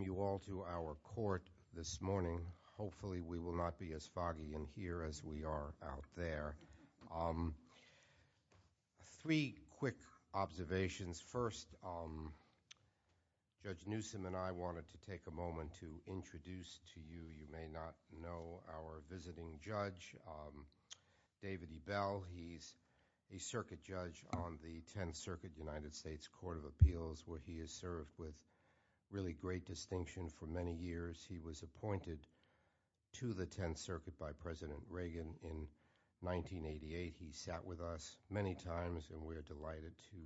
you all to our court this morning. Hopefully we will not be as foggy in here as we are out there. Three quick observations. First, Judge Newsom and I wanted to take a moment to introduce to you, you may not know, our visiting judge, David E. Bell. He's a circuit judge on the 10th Circuit of the United States Court of Appeals where he has served with really great distinction for many years. He was appointed to the 10th Circuit by President Reagan in 1988. He sat with us many times and we're delighted to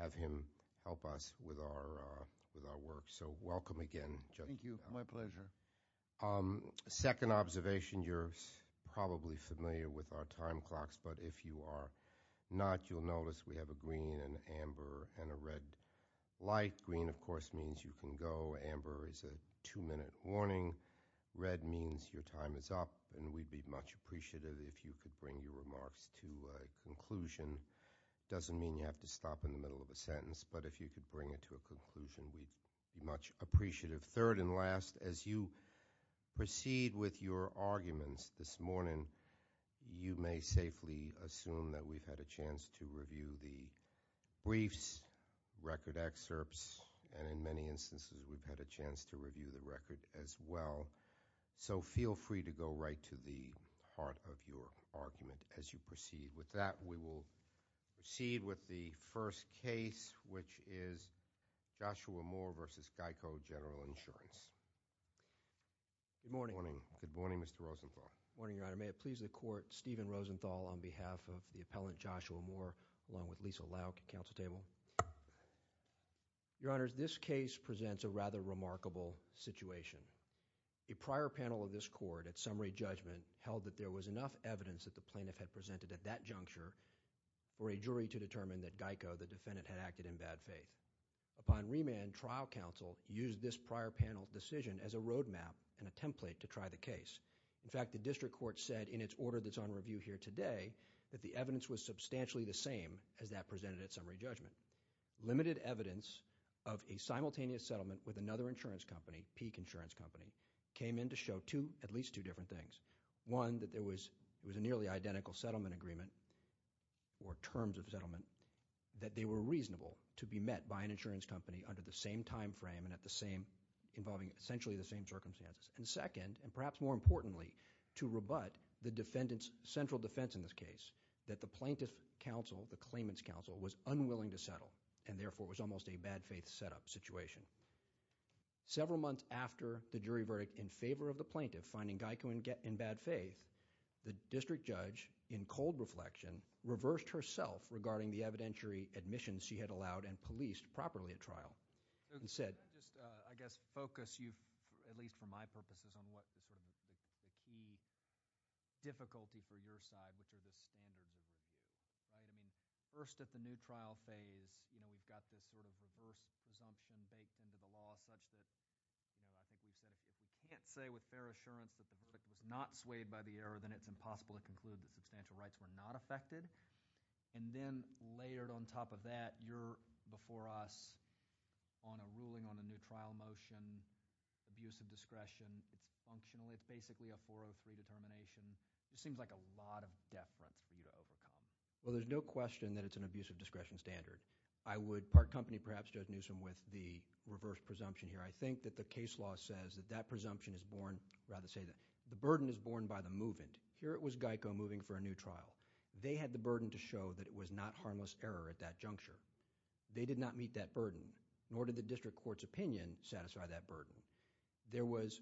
have him help us with our work. So welcome again. Thank you, my pleasure. Second observation, you're probably familiar with our time clocks, but if you are not, you'll notice we have a green and amber and a red light. Green, of course, means you can go. Amber is a two-minute warning. Red means your time is up and we'd be much appreciative if you could bring your remarks to a conclusion. Doesn't mean you have to stop in the middle of a sentence, but if you could bring it to a conclusion, we'd be much appreciative. Third and last, as you assume that we've had a chance to review the briefs, record excerpts, and in many instances, we've had a chance to review the record as well. So feel free to go right to the heart of your argument as you proceed. With that, we will proceed with the first case, which is Joshua Moore v. GEICO General Insurance. Good morning. Good morning, Mr. Rosenblatt. Good morning, Your Honor. May it please the Court, Stephen Rosenthal on behalf of the appellant, Joshua Moore, along with Lisa Lauk, counsel table. Your Honor, this case presents a rather remarkable situation. A prior panel of this Court, at summary judgment, held that there was enough evidence that the plaintiff had presented at that juncture for a jury to determine that GEICO, the defendant, had acted in bad faith. Upon remand, trial counsel used this prior panel decision as a order that's on review here today, that the evidence was substantially the same as that presented at summary judgment. Limited evidence of a simultaneous settlement with another insurance company, Peak Insurance Company, came in to show two, at least two different things. One, that there was a nearly identical settlement agreement, or terms of settlement, that they were reasonable to be met by an insurance company under the same time frame and at the same, involving essentially the same circumstances. And second, and perhaps more importantly, to rebut the defendant's central defense in this case, that the plaintiff counsel, the claimant's counsel, was unwilling to settle, and therefore was almost a bad faith setup situation. Several months after the jury verdict in favor of the plaintiff finding GEICO in bad faith, the district judge, in cold reflection, reversed herself regarding the evidentiary admissions she had allowed and policed properly at trial, and said. Can I just, I guess, focus you, at least for my purposes, on what was sort of the key difficulty for your side, which are the standard reviews, right? I mean, first at the new trial phase, you know, we've got this sort of reverse presumption baked into the law, such that, you know, I think you said, if you can't say with fair assurance that the verdict was not swayed by the error, then it's impossible to conclude that substantial rights were not affected. And then, layered on top of that, you're, before us, on a ruling on a new trial motion, abuse of discretion, it's functional, it's basically a 403 determination. It seems like a lot of deference for you to overcome. Well, there's no question that it's an abuse of discretion standard. I would part company, perhaps, Judge Newsom, with the reverse presumption here. I think that the case law says that that presumption is born, rather say that the burden is born by the move-in. Here, it was GEICO moving for a new trial. They had the burden to show that it was not harmless error at that juncture. They did not meet that burden, nor did the district court's opinion satisfy that burden. There was,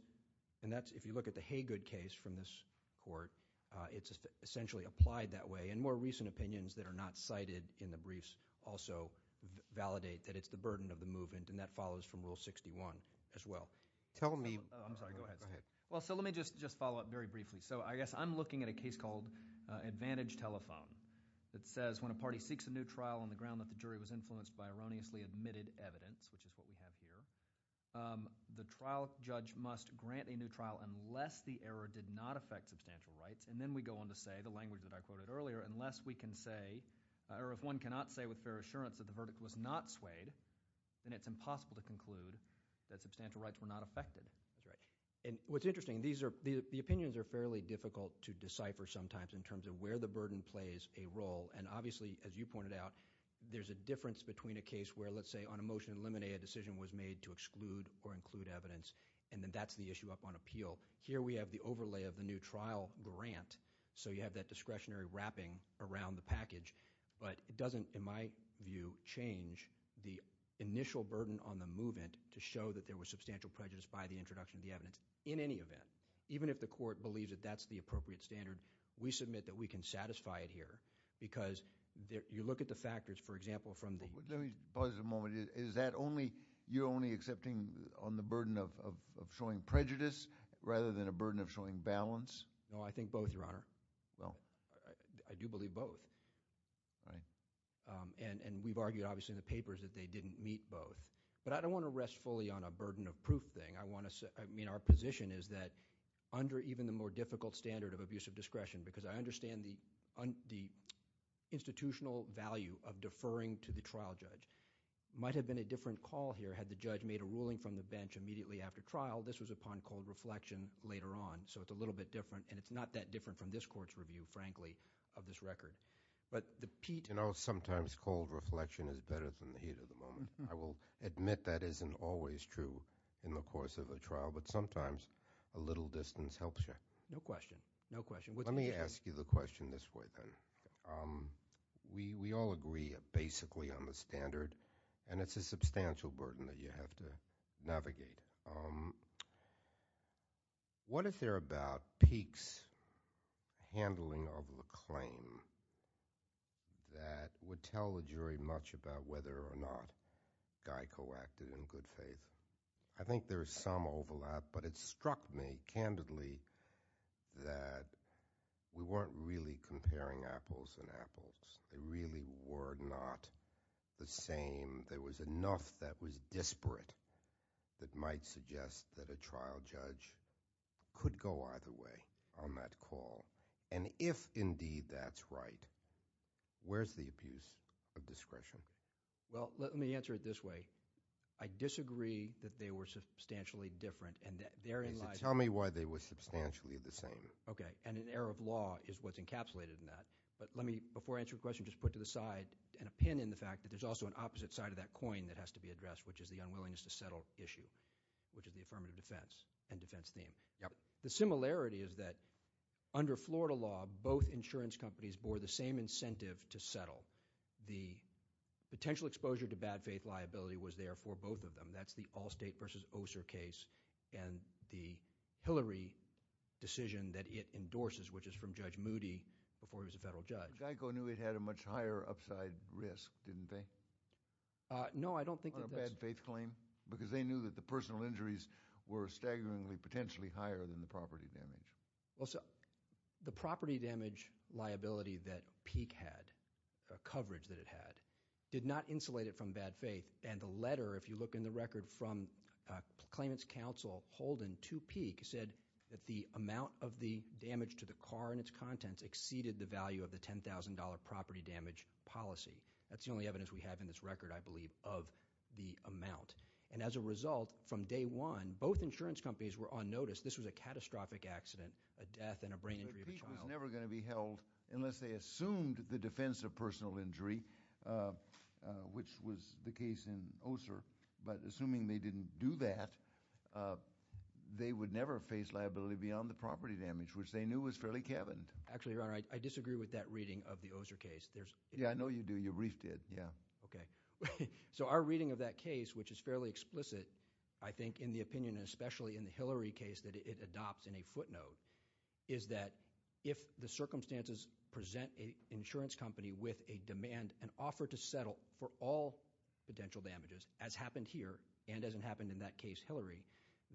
and that's, if you look at the Haygood case from this court, it's essentially applied that way, and more recent opinions that are not cited in the briefs also validate that it's the burden of the move-in, and that follows from Rule 61 as well. Tell me, I'm sorry, go ahead. Well, so let me just follow up very briefly. So I guess I'm looking at a case called Advantage Telephone that says, when a party seeks a new trial on the ground that the jury was influenced by erroneously admitted evidence, which is what we have here, the trial judge must grant a new trial unless the error did not affect substantial rights, and then we go on to say, the language that I quoted earlier, unless we can say, or if one cannot say with fair assurance that the verdict was not swayed, then it's impossible to conclude that substantial rights were not affected. And what's interesting, these are, the opinions are fairly difficult to decipher sometimes in terms of where the burden plays a role, and obviously, as you pointed out, there's a difference between a case where, let's say, on a motion to eliminate, a decision was made to exclude or include evidence, and then that's the issue up on appeal. Here we have the overlay of the new trial grant, so you have that discretionary wrapping around the package, but it doesn't, in my view, change the initial burden on the move-in to show that there was substantial prejudice by the introduction of the evidence. In any event, even if the court believes that that's the appropriate standard, we submit that we can satisfy it here, because you look at the factors, for example, from the... Let me pause a moment. Is that only, you're only accepting on the burden of showing prejudice rather than a burden of showing balance? No, I think both, Your Honor. Well... I do believe both. Right. And we've argued, obviously, in the papers that they didn't meet both, but I don't want to rest fully on a burden of proof thing. I want to say, I mean, our position is that under even the more difficult standard of abusive discretion, because I understand the institutional value of deferring to the trial judge, might have been a different call here had the judge made a ruling from the bench immediately after trial. This was upon cold reflection later on, so it's a little bit different, and it's not that different from this Court's review, frankly, of this record. But the Pete... You know, sometimes cold reflection is better than the heat of the moment. I will admit that isn't always true in the course of a trial, but sometimes a little distance helps you. No question. No question. Let me ask you the question this way, then. We all agree, basically, on the standard, and it's a substantial burden that you have to navigate. What if they're about Peek's handling of the claim that would tell the jury much about whether or not Guy co-acted in good faith? I think there is some overlap, but it struck me, candidly, that we weren't really comparing apples and apples. They really were not the same. There was enough that was disparate that might suggest that a trial judge could go either way on that call. And if, indeed, that's right, where's the abuse of discretion? Well, let me answer it this way. I disagree that they were substantially different, and that they're in line... Tell me why they were substantially the same. Okay. And an error of law is what's encapsulated in that. But let me, before I answer your question, just put to the side an opinion, the fact that there's also an opposite side of that coin that is the unwillingness to settle issue, which is the affirmative defense and defense theme. Yep. The similarity is that, under Florida law, both insurance companies bore the same incentive to settle. The potential exposure to bad faith liability was there for both of them. That's the Allstate v. Oser case and the Hillary decision that it endorses, which is from Judge Moody before he was a federal judge. Guy co-knew it had a much higher upside risk, didn't they? No, I don't think that that's... On a bad faith claim? Because they knew that the personal injuries were staggeringly, potentially higher than the property damage. Well, so the property damage liability that Peek had, coverage that it had, did not insulate it from bad faith. And the letter, if you look in the record from claimant's counsel Holden to Peek, said that the amount of the damage to the car and its contents exceeded the value of the $10,000 property damage policy. That's the only evidence we have in this record, I believe, of the amount. And as a result, from day one, both insurance companies were on notice this was a catastrophic accident, a death and a brain injury of a child. But Peek was never going to be held unless they assumed the defense of personal injury, which was the case in Oser. But assuming they didn't do that, they would never face liability beyond the property damage, which they knew was fairly Actually, Your Honor, I disagree with that reading of the Oser case. Yeah, I know you do. Your brief did, yeah. Okay. So our reading of that case, which is fairly explicit, I think, in the opinion, especially in the Hillary case that it adopts in a footnote, is that if the circumstances present an insurance company with a demand, an offer to settle for all potential damages, as happened here and as it happened in that case, Hillary,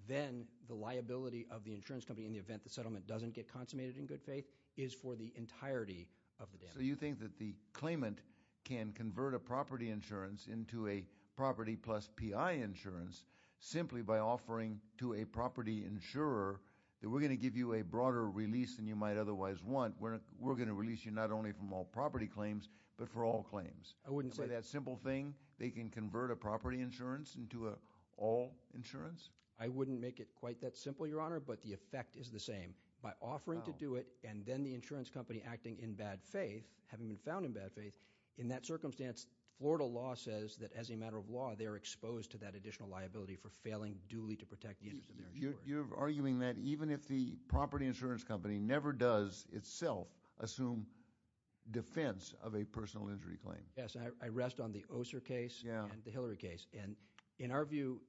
then the liability of the insurance company in the settlement doesn't get consummated in good faith is for the entirety of the damage. So you think that the claimant can convert a property insurance into a property plus P.I. insurance simply by offering to a property insurer that we're going to give you a broader release than you might otherwise want. We're going to release you not only from all property claims, but for all claims. I wouldn't say that simple thing. They can convert a property insurance into an all insurance. I wouldn't make it quite that simple, but the effect is the same. By offering to do it and then the insurance company acting in bad faith, having been found in bad faith, in that circumstance, Florida law says that as a matter of law, they're exposed to that additional liability for failing duly to protect the interest of their insurance. You're arguing that even if the property insurance company never does itself assume defense of a personal injury claim. Yes. I rest on the Oser case and the Hillary case. In our view,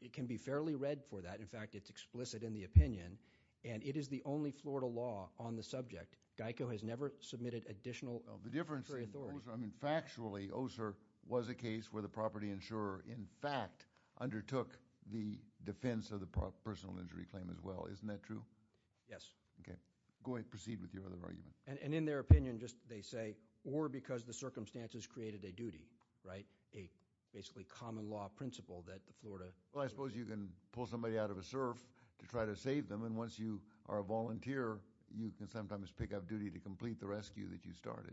it can be fairly read for that. In fact, it's explicit in the opinion. It is the only Florida law on the subject. GEICO has never submitted additional authority. The difference is, factually, Oser was a case where the property insurer, in fact, undertook the defense of the personal injury claim as well. Isn't that true? Yes. Go ahead and proceed with your other argument. In their opinion, they say, or because the circumstances created a duty, a basically common law principle that the Florida... Well, I suppose you can pull somebody out of a surf to try to save them and once you are a volunteer, you can sometimes pick up duty to complete the rescue that you started.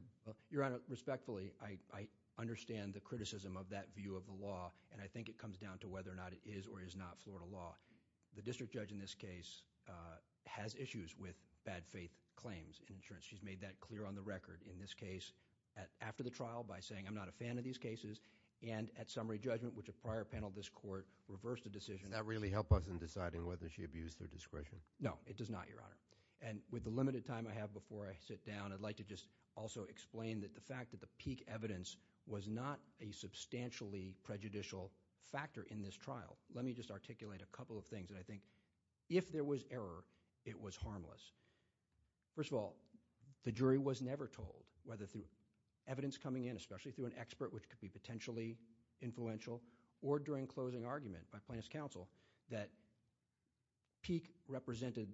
Your Honor, respectfully, I understand the criticism of that view of the law and I think it comes down to whether or not it is or is not Florida law. The district judge in this case has issues with bad faith claims in insurance. She's made that clear on the record. In this case, after the trial, by saying, I'm not a fan of these cases, and at summary judgment, which a prior panel of this court reversed a decision... Does that really help us in deciding whether she abused her discretion? No, it does not, Your Honor. With the limited time I have before I sit down, I'd like to just also explain that the fact that the peak evidence was not a substantially prejudicial factor in this trial. Let me just articulate a couple of things that I think, if there was error, it was harmless. First of all, the jury was never told whether evidence coming in, especially through an expert which could be potentially influential, or during closing argument by plaintiff's counsel, that peak represented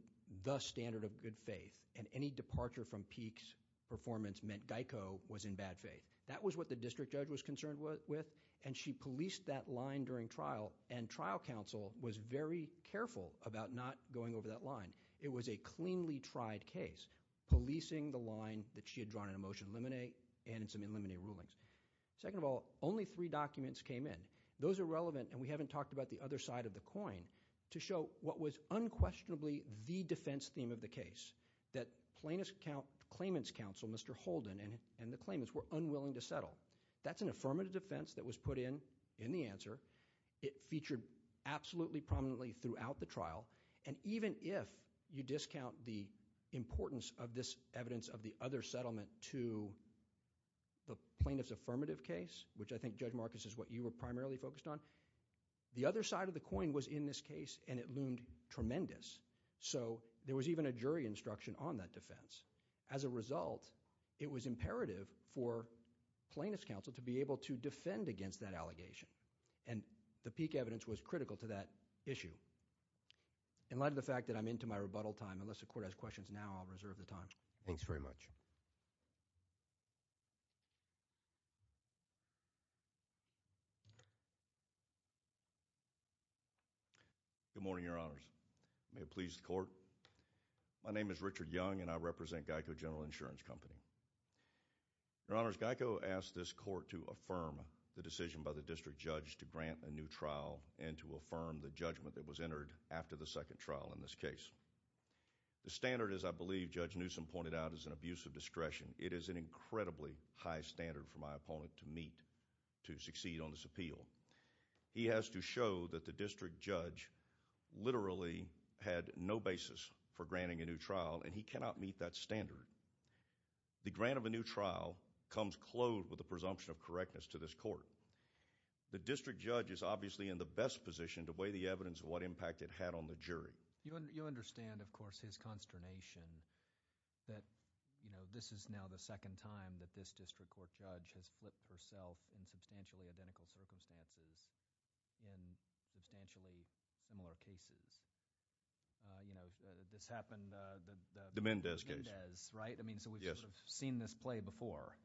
the standard of good faith and any departure from peak's performance meant Geico was in bad faith. That was what the district judge was concerned with and she policed that line during trial and trial counsel was very careful about not going over that line. It was a cleanly tried case, policing the line that she had drawn in a motion to eliminate and in some eliminated rulings. Second of all, only three documents came in. Those are relevant and we haven't talked about the other side of the coin to show what was unquestionably the defense theme of the case, that plaintiff's counsel, Mr. Holden, and the claimants were unwilling to settle. That's an affirmative defense that was put in in the answer. It featured absolutely prominently throughout the trial and even if you discount the importance of this evidence of the other settlement to the plaintiff's affirmative case, which I think Judge Marcus is what you were primarily focused on, the other side of the coin was in this case and it loomed tremendous. So there was even a jury instruction on that defense. As a result, it was imperative for plaintiff's counsel to be able to defend against that allegation and the peak evidence was critical to that issue. In light of the fact that I'm into my rebuttal time, unless the court has questions now, I'll reserve the time. Thanks very much. Good morning, your honors. May it please the court. My name is Richard Young and I represent Geico General Insurance Company. Your honors, Geico asked this court to affirm the decision by the district judge, Judge Newsom, to affirm the judgment that was entered after the second trial in this case. The standard, as I believe Judge Newsom pointed out, is an abuse of discretion. It is an incredibly high standard for my opponent to meet to succeed on this appeal. He has to show that the district judge literally had no basis for granting a new trial and he cannot meet that standard. The grant of a new trial comes clothed with the presumption of correctness to this court. The district judge is obviously in the best position to weigh the evidence of what impact it had on the jury. You understand, of course, his consternation that, you know, this is now the second time that this district court judge has flipped herself in substantially identical circumstances in substantially similar cases. You know, this happened, the Mendez case, right? I mean, so we've sort of seen this play before.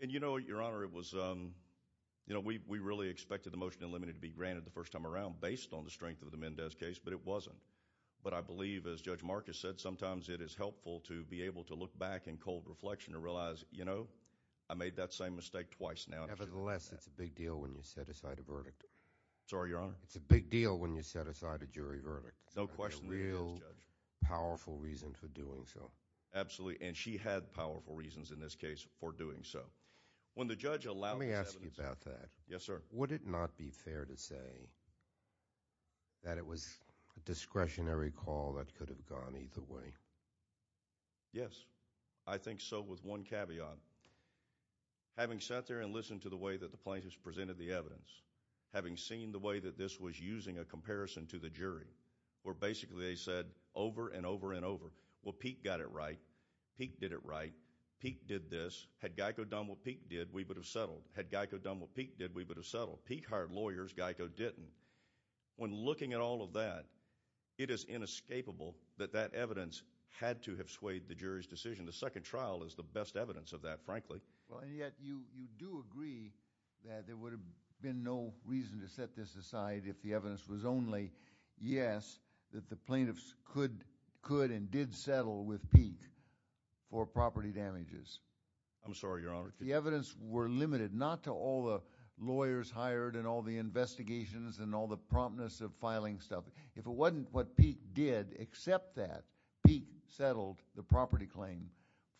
And you know, your honor, it was, you know, we really expected the motion to be granted the first time around based on the strength of the Mendez case, but it wasn't. But I believe, as Judge Marcus said, sometimes it is helpful to be able to look back in cold reflection and realize, you know, I made that same mistake twice now. Nevertheless, it's a big deal when you set aside a verdict. Sorry, your honor? It's a big deal when you set aside a verdict. But I think it's a big deal when you set aside a verdict. Let me ask you about that. Yes, sir. Would it not be fair to say that it was a discretionary call that could have gone either way? Yes, I think so, with one caveat. Having sat there and listened to the way that the plaintiffs presented the evidence, having seen the way that this was using a comparison to the jury, where basically they said over and over and over, well, Pete got it right. Pete did it right. Pete did this. Had Geico done what Pete did, we would have settled. Had Geico done what Pete did, we would have settled. Pete hired lawyers. Geico didn't. When looking at all of that, it is inescapable that that evidence had to have swayed the jury's decision. The second trial is the best evidence of that, frankly. Well, and yet you do agree that there would have been no reason to set this aside if the evidence was only, yes, that the plaintiffs could and did settle with Pete for property damages. I'm sorry, Your Honor. The evidence were limited, not to all the lawyers hired and all the investigations and all the promptness of filing stuff. If it wasn't what Pete did except that Pete settled the property claim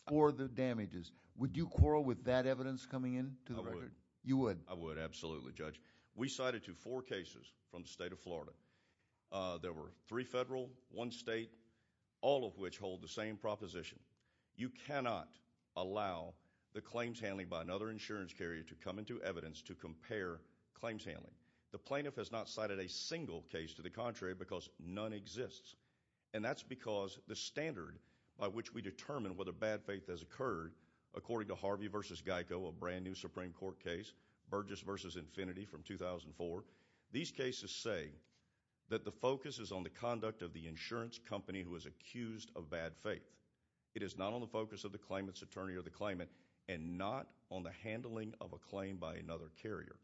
for the damages, would you quarrel with that evidence coming into the record? I would. You would? I would, absolutely, Judge. We cited to four cases from the state of Florida. There were three federal, one state, all of which hold the same proposition. You cannot allow the claims handling by another insurance carrier to come into evidence to compare claims handling. The plaintiff has not cited a single case to the contrary because none exists, and that's because the standard by which we determine whether bad faith has occurred, according to Harvey v. Geico, a brand new Supreme Court case, Burgess v. Infinity from 2004, these cases say that the focus is on the conduct of the insurance company who is accused of bad faith. It is not on the focus of the claimant's attorney or the claimant, and not on the handling of a claim by another carrier.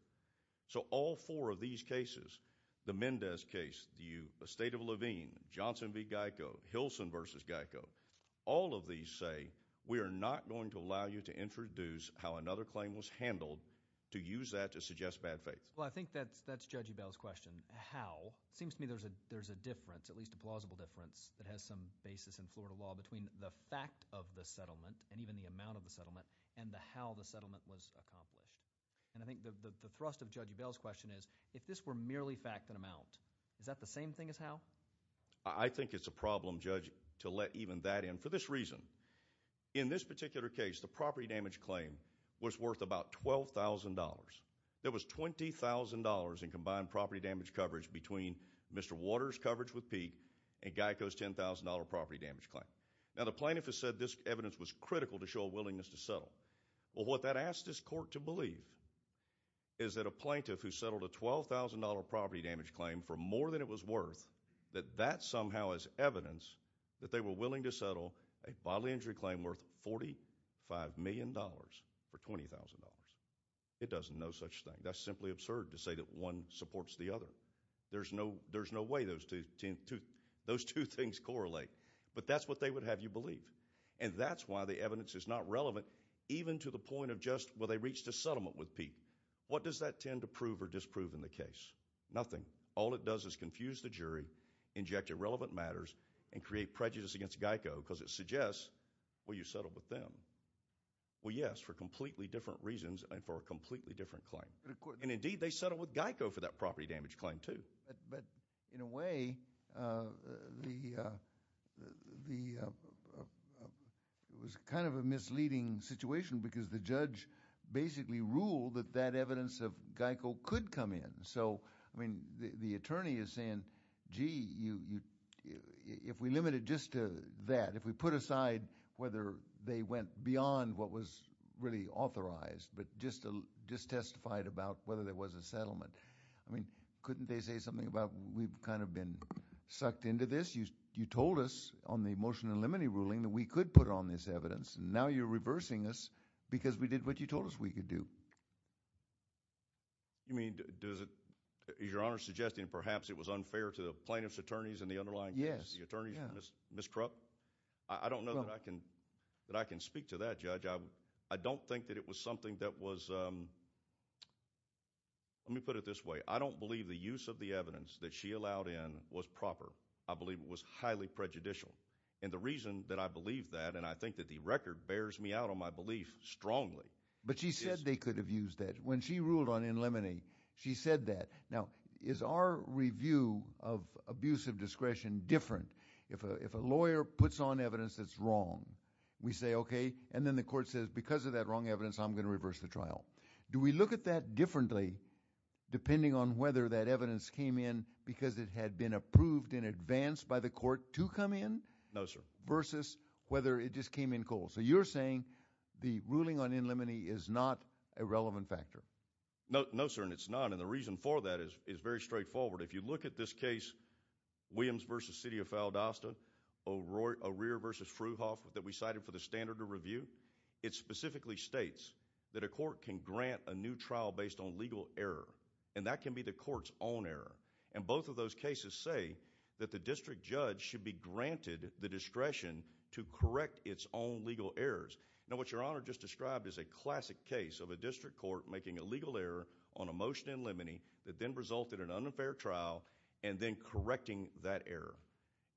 So all four of these cases, the Mendez case, the state of Levine, Johnson v. Geico, Hilson v. Geico, all of these say we are not going to allow you to introduce how another claim was handled to use that to suggest bad faith. Well, I think that's Judge Ebell's question, how. It seems to me there's a difference, at least a plausible difference, that has some basis in Florida law between the fact of the settlement, and even the amount of the settlement, and how the settlement was accomplished. And I think the thrust of Judge Ebell's question is, if this were merely fact and amount, is that the same thing as how? I think it's a problem, Judge, to let even that in, for this reason. In this particular case, the property damage claim was worth about $12,000. There was $20,000 in combined property damage coverage between Mr. Waters' coverage with Pete and Geico's $10,000 property damage claim. Now, the plaintiff has said this evidence was critical to show a willingness to settle. Well, what that asks this court to believe is that a plaintiff who settled a $12,000 property damage claim for more than it was worth, that that somehow is evidence that they were willing to settle a bodily injury claim worth $45 million for $20,000. It does no such thing. That's simply absurd to say that one supports the other. There's no way those two things correlate. But that's what they would have you believe. And that's why the evidence is not relevant, even to the point of just, well, they reached a settlement with Pete. What does that tend to prove or disprove in the case? Nothing. All it does is confuse the jury, inject irrelevant matters, and create prejudice against Geico, because it suggests, well, you settled with them. Well, yes, for completely different reasons and for a completely different claim. And, indeed, they settled with Geico for that property damage claim, too. But, in a way, it was kind of a misleading situation, because the judge basically ruled that that evidence of Geico could come in. So, I mean, the attorney is saying, gee, if we limit it just to that, if we put aside whether they went beyond what was really authorized, but just testified about whether there was a settlement, I mean, couldn't they say something about we've kind of been sucked into this? You told us on the motion in limine ruling that we could put on this evidence, and now you're reversing us because we did what you told us we could do. You mean, does it, is Your Honor suggesting perhaps it was unfair to the plaintiff's attorneys and the underlying case, the attorneys, Ms. Krupp? I don't know that I can speak to that, Judge. I don't think that it was something that was, let me put it this way, I don't believe the use of the evidence that she allowed in was proper. I believe it was highly prejudicial. And the reason that I believe that, and I think that the record bears me out on my belief strongly. But she said they could have used that. When she ruled on in limine, she said that. Now, is our review of abuse of discretion different if a lawyer puts on evidence that's wrong? We say, okay, and then the court says, because of that wrong evidence, I'm going to reverse the trial. Do we look at that differently depending on whether that evidence came in because it had been approved in advance by the court to come in? No, sir. Versus whether it just came in cold. So you're saying the ruling on in limine is not a relevant factor? No, no, sir, and it's not. And the reason for that is very straightforward. If you look at this case, Williams v. City of Faldosta, O'Rear v. Fruhoff that we cited for the standard of review, it specifically states that a court can grant a new trial based on legal error. And that can be the court's own error. And both of those cases say that the district judge should be granted the discretion to correct its own legal errors. Now, what Your Honor just described is a classic case of a district court making a legal error on a motion in limine that then resulted in an unfair trial and then correcting that error.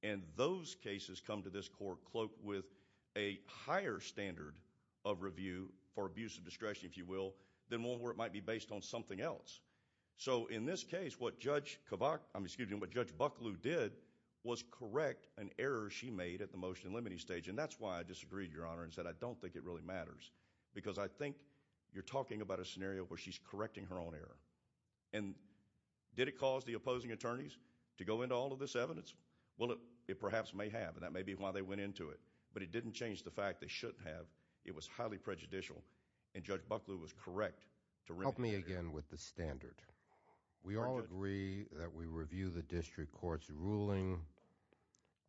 And those cases come to this court cloaked with a higher standard of review for abuse of discretion, if you will, than one where it might be based on something else. So in this case, what Judge Bucklew did was correct an error she made at the motion in limine stage, and that's why I disagreed, Your Honor, and said I don't think it really matters because I think you're talking about a scenario where she's correcting her own error. And did it cause the opposing attorneys to go into all of this evidence? Well, it perhaps may have, and that may be why they went into it, but it didn't change the fact they shouldn't have. It was highly prejudicial, and Judge Bucklew was correct to remedy the error. Help me again with the standard. We all agree that we review the district court's ruling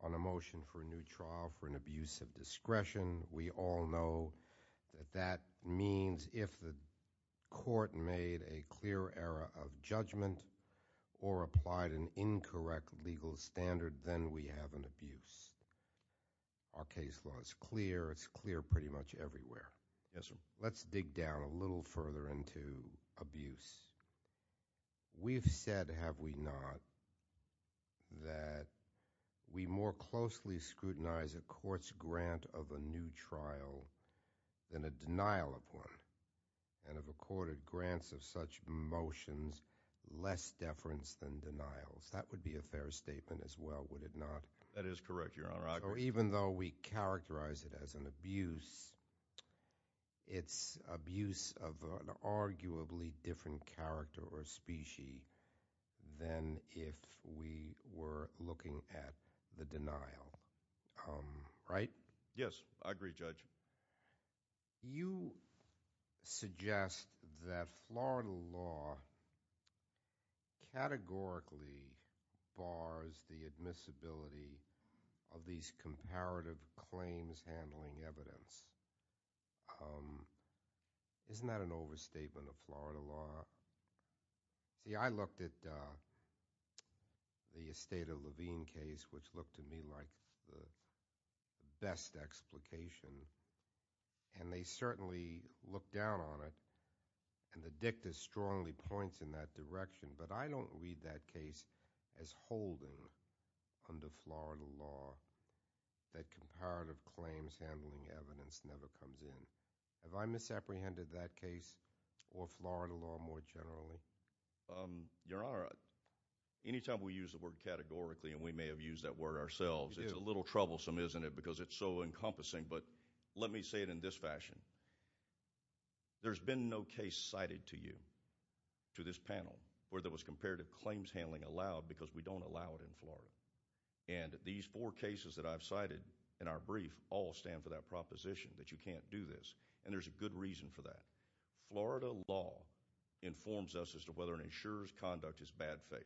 on a motion for a new trial for an abuse of discretion. We all know that that means if the court made a clear error of judgment or applied an incorrect legal standard, then we have an abuse. Our case law is clear. It's clear pretty much everywhere. Yes, sir. Let's dig down a little further into abuse. We've said, have we not, that we more closely scrutinize a court's grant of a new trial than a denial of one, and have accorded grants of such motions less deference than denials. That would be a fair statement as well, would it not? That is correct, Your Honor. Even though we characterize it as an abuse, it's abuse of an arguably different character or species than if we were looking at the denial, right? Yes, I agree, Judge. Judge, you suggest that Florida law categorically bars the admissibility of these comparative claims handling evidence. Isn't that an overstatement of Florida law? See, I looked at the Esteta-Levine case, which looked to me like the best explication and they certainly looked down on it and the dicta strongly points in that direction, but I don't read that case as holding under Florida law that comparative claims handling evidence never comes in. Have I misapprehended that case or Florida law more generally? Your Honor, anytime we use the word categorically, and we may have used that word ourselves, it's a little troublesome, isn't it, because it's so encompassing. But let me say it in this fashion. There's been no case cited to you, to this panel, where there was comparative claims handling allowed because we don't allow it in Florida. And these four cases that I've cited in our brief all stand for that proposition, that you can't do this, and there's a good reason for that. Florida law informs us as to whether an insurer's conduct is bad faith.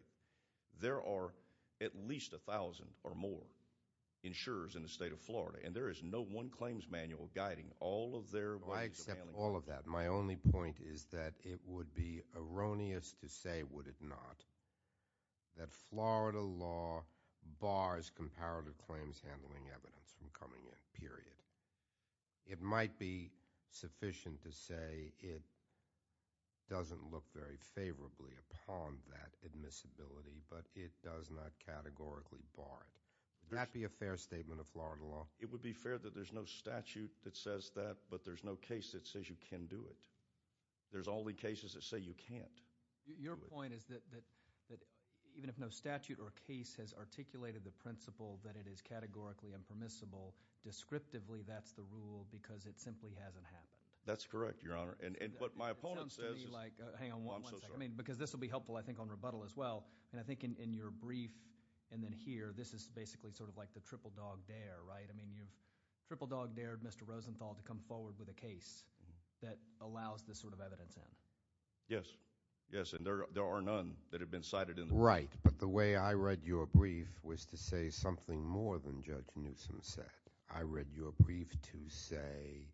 There are at least a thousand or more insurers in the state of Florida, and there is no one claims manual guiding all of their ways of handling it. I accept all of that. My only point is that it would be erroneous to say, would it not, that Florida law bars comparative claims handling evidence from coming in, period. It might be sufficient to say it doesn't look very favorably upon that admissibility, but it does not categorically bar it. Would that be a fair statement of Florida law? It would be fair that there's no statute that says that, but there's no case that says you can do it. There's only cases that say you can't. Your point is that even if no statute or case has articulated the principle that it is the rule, it simply hasn't happened. That's correct, Your Honor. Because this will be helpful, I think, on rebuttal as well, and I think in your brief, and then here, this is basically sort of like the triple dog dare, right? I mean, you've triple dog dared Mr. Rosenthal to come forward with a case that allows this sort of evidence in. Yes, yes, and there are none that have been cited in the brief. Right, but the way I read your brief was to say something more than Judge Newsom said. I read your brief to say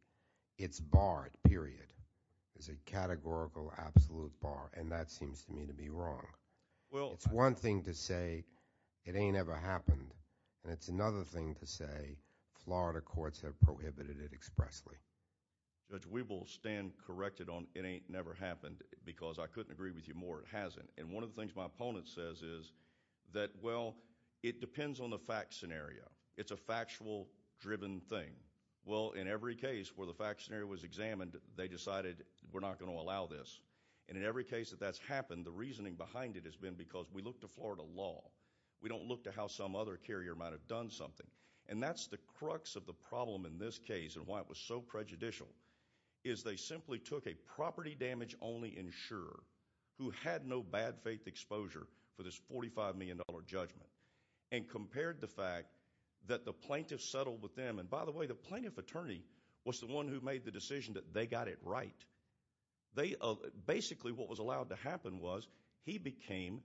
it's barred, period. There's a categorical absolute bar, and that seems to me to be wrong. It's one thing to say it ain't ever happened, and it's another thing to say Florida courts have prohibited it expressly. Judge, we will stand corrected on it ain't never happened because I couldn't agree with you more it hasn't, and one of the things my opponent says is that, well, it depends on the fact scenario. It's a factual driven thing. Well, in every case where the fact scenario was examined, they decided we're not going to allow this, and in every case that that's happened, the reasoning behind it has been because we look to Florida law. We don't look to how some other carrier might have done something, and that's the crux of the problem in this case and why it was so prejudicial is they simply took a property damage only insurer who had no bad faith exposure for this $45 million judgment and compared the fact that the plaintiff settled with them, and by the way, the plaintiff attorney was the one who made the decision that they got it right. Basically, what was allowed to happen was he became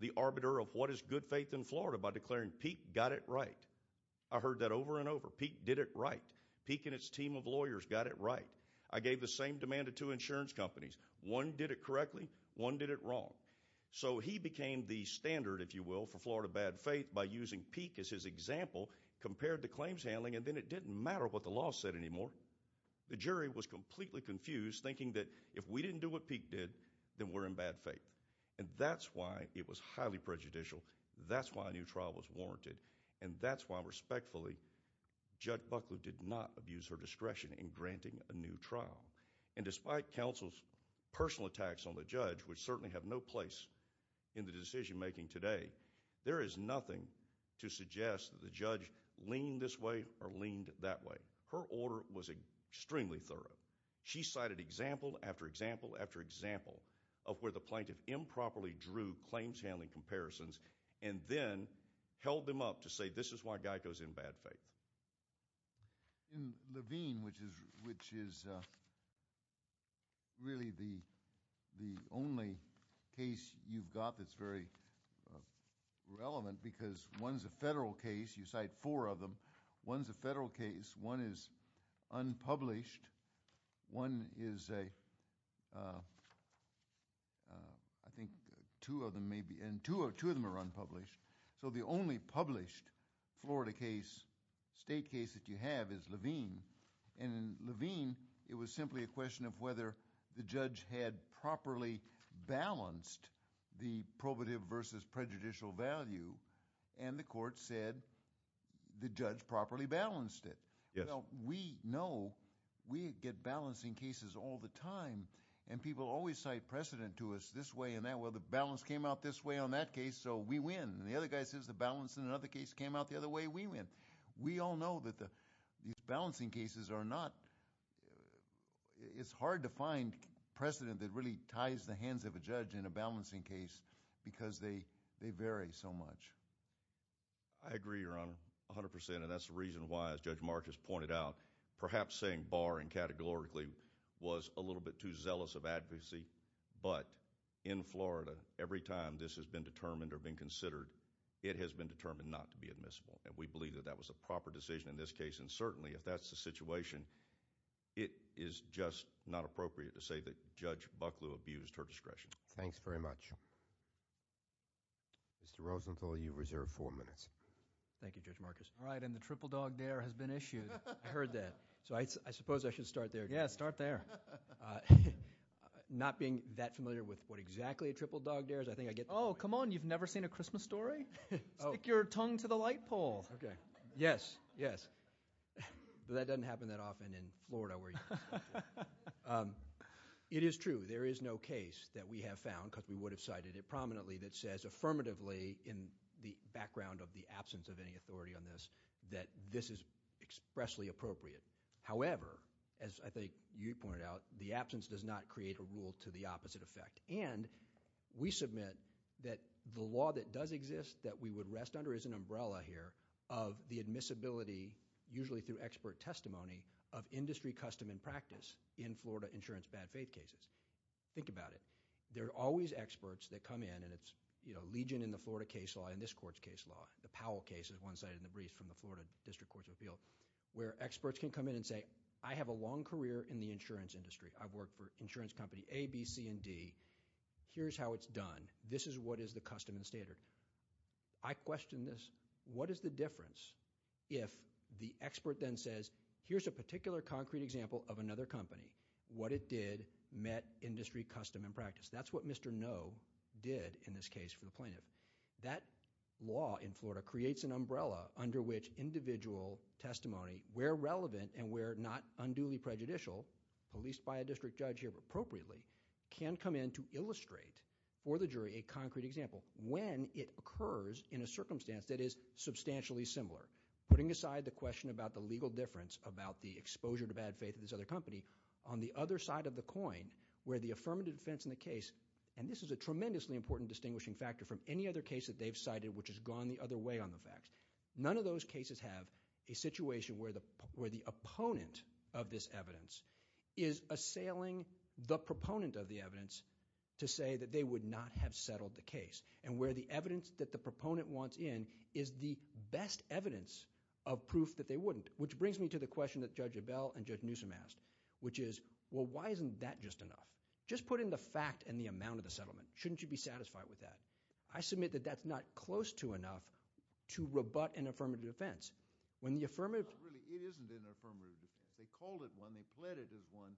the arbiter of what is good faith in Florida by declaring Peek got it right. I heard that over and over. Peek did it right. Peek and its team of lawyers got it right. I gave the same demand to two insurance companies. One did it correctly. One did it wrong. So he became the standard, if you will, for Florida bad faith by using Peek as his example, compared the claims handling, and then it didn't matter what the law said anymore. The jury was completely confused, thinking that if we didn't do what Peek did, then we're in bad faith, and that's why it was highly prejudicial. That's why a new trial was warranted, and that's why, respectfully, Judge Buckley did not abuse her discretion in granting a new trial, and despite counsel's personal attacks on the judge, which certainly have no place in the decision-making today, there is nothing to suggest that the judge leaned this way or leaned that way. Her order was extremely thorough. She cited example after example after example of where the plaintiff improperly drew claims handling comparisons and then held them up to say, this is why a guy goes in bad faith. In Levine, which is really the only case you've got that's very relevant because one's a federal case, you cite four of them, one's a federal case, one is unpublished, one is a... I think two of them may be... and two of them are unpublished. So the only published Florida case, state case that you have is Levine, and in Levine, it was simply a question of whether the judge had properly balanced the probative versus prejudicial value, and the court said the judge properly balanced it. Well, we know we get balancing cases all the time, and people always cite precedent to us this way and that way. The balance came out this way on that case, so we win, and the other guy says the balance in another case came out the other way, we win. We all know that these balancing cases are not... it's hard to find precedent that really ties the hands of a judge in a balancing case because they vary so much. I agree, Your Honor, 100 percent, and that's the reason why, as Judge Marcus pointed out, perhaps saying bar and categorically was a little bit too zealous of advocacy, but in Florida, every time this has been determined or been considered, it has been determined not to be admissible, and we believe that that was a proper decision in this case, and certainly, if that's the situation, it is just not appropriate to say that Judge Bucklew abused her discretion. Thanks very much. Mr. Rosenthal, you reserve four minutes. Thank you, Judge Marcus. All right, and the triple dog dare has been issued. I heard that, so I suppose I should start there. Yeah, start there. Not being that familiar with what exactly a triple dog dare is, I think I get... Oh, come on. You've never seen a Christmas story? Stick your tongue to the light pole. Okay. Yes, yes, but that doesn't happen that often in Florida where you... It is true. There is no case that we have found, because we would have cited it prominently, that says affirmatively in the background of the absence of any authority on this, that this is expressly appropriate. However, as I think you pointed out, the absence does not create a rule to the opposite effect, and we submit that the law that does exist that we would rest under is an umbrella here of the admissibility, usually through expert testimony, of industry custom and practice in Florida insurance bad faith cases. Think about it. There are always experts that come in, and it's legion in the Florida case law and this court's case law. The Powell case is one cited in the brief from the Florida District Courts of Appeal, where experts can come in and say, I have a long career in the insurance industry. I've worked for insurance company A, B, C, and D. Here's how it's done. This is what is the custom and standard. I question this. What is the difference if the expert then says, here's a particular concrete example of another company, what it did met industry custom and practice? That's what Mr. No did in this case for the plaintiff. That law in Florida creates an umbrella under which individual testimony, where relevant and where not unduly prejudicial, policed by a district judge here appropriately, can come in to illustrate for the jury a concrete example when it occurs in a circumstance that is substantially similar. Putting aside the question about the legal difference about the exposure to bad faith to this other company, on the other side of the coin, where the affirmative defense in the case, and this is a tremendously important distinguishing factor from any other case that they've cited which has gone the other way on the facts. None of those cases have a situation where the opponent of this evidence is assailing the proponent of the evidence to say that they would not have settled the case, and where the evidence that the proponent wants in is the best evidence of proof that they could have settled the case in the affirmative defense, and that's what Mr. No has asked, which is, well, why isn't that just enough? Just put in the fact and the amount of the settlement. Shouldn't you be satisfied with that? I submit that that's not close to enough to rebut an affirmative defense. When the affirmative... It isn't an affirmative defense. They called it one. They pled it as one.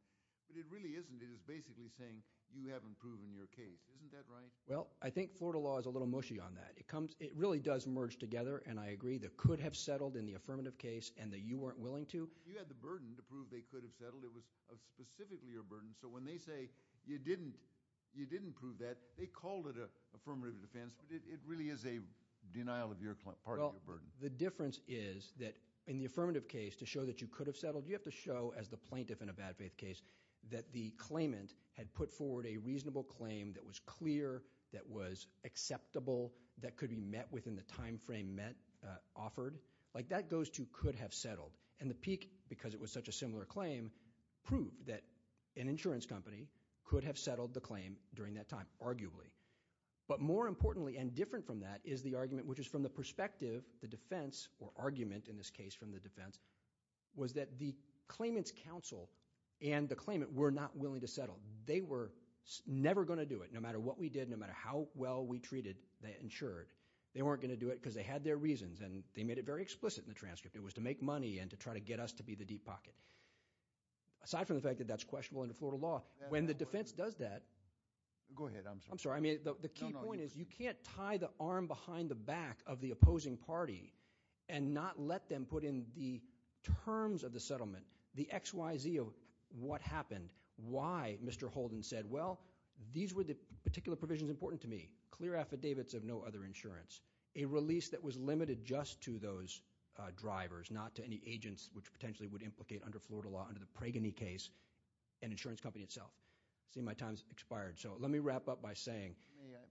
But it really isn't. It is basically saying you haven't proven your case. Isn't that right? Well, I think Florida law is a little mushy on that. It really does merge together, and I agree, that could have settled in the affirmative case and that you weren't willing to. You had the burden to prove they could have settled. It was specifically your burden, so when they say you didn't prove that, they called it an affirmative defense, but it really is a denial of your part of your burden. The difference is that in the affirmative case, to show that you could have settled, you have to show, as the plaintiff in a bad faith case, that the claimant had put forward a reasonable claim that was clear, that was acceptable, that could be met within the timeframe offered. That goes to could have settled, and the Peek, because it was such a similar claim, proved that an insurance company could have settled the claim during that time, arguably. But more importantly, and different from that, is the argument, which is from the perspective, the defense, or argument in this case from the defense, was that the claimant's counsel and the claimant were not willing to settle. They were never going to do it, no matter what we did, no matter how well we treated the insured. They weren't going to do it because they had their reasons, and they made it very explicit in the transcript. It was to make money, and to try to get us to be the deep pocket. Aside from the fact that that's questionable under Florida law, when the defense does that... Go ahead, I'm sorry. I'm sorry. I mean, the key point is you can't tie the arm behind the back of the opposing party and not let them put in the terms of the settlement, the X, Y, Z of what happened, why Mr. Holden said, well, these were the particular provisions important to me, clear affidavits of no other insurance. A release that was limited just to those drivers, not to any agents, which potentially would implicate under Florida law, under the Pragany case, an insurance company itself. I see my time's expired, so let me wrap up by saying...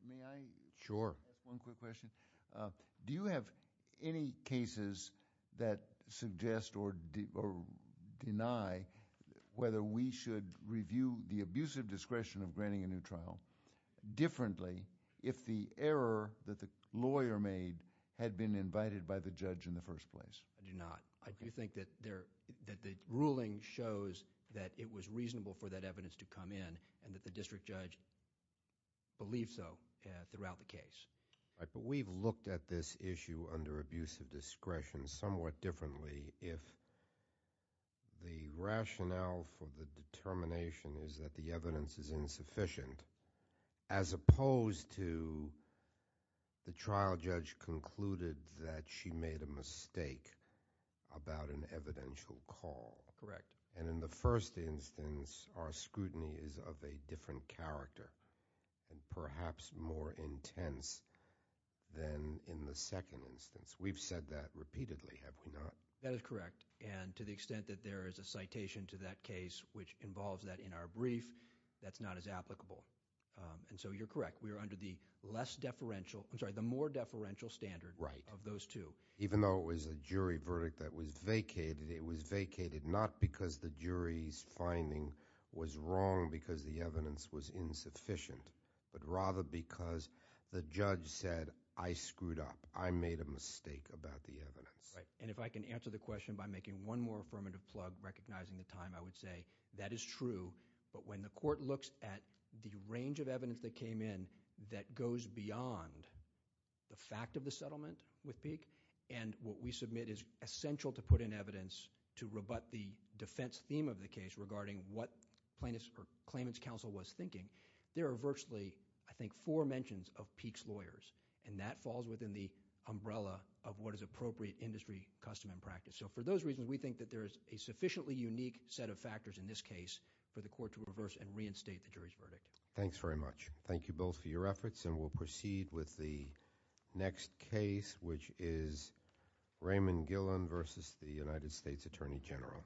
May I? Sure. One quick question. Do you have any cases that suggest or deny whether we should review the abusive discretion of granting a new trial differently if the error that the lawyer made had been invited by the judge in the first place? I do not. I do think that the ruling shows that it was reasonable for that evidence to come in, and that the district judge believed so throughout the case. We've looked at this issue under abusive discretion somewhat differently if the rationale for the determination is that the evidence is insufficient, as opposed to the trial judge concluded that she made a mistake about an evidential call. Correct. And in the first instance, our scrutiny is of a different character, and perhaps more intense than in the second instance. We've said that repeatedly, have we not? That is correct. To the extent that there is a citation to that case which involves that in our brief, that's not as applicable. You're correct. We are under the more deferential standard of those two. Even though it was a jury verdict that was vacated, it was vacated not because the jury's finding was wrong because the evidence was insufficient, but rather because the judge said, I screwed up. I made a mistake about the evidence. If I can answer the question by making one more affirmative plug, recognizing the time, I would say that is true, but when the court looks at the range of evidence that came in that goes beyond the fact of the settlement with Peek, and what we submit is essential to put in evidence to rebut the defense theme of the case regarding what plaintiff's or claimant's counsel was thinking, there are virtually, I think, four mentions of Peek's umbrella of what is appropriate industry custom and practice. For those reasons, we think that there is a sufficiently unique set of factors in this case for the court to reverse and reinstate the jury's verdict. Thanks very much. Thank you both for your efforts, and we'll proceed with the next case, which is Raymond Gillen versus the United States Attorney General.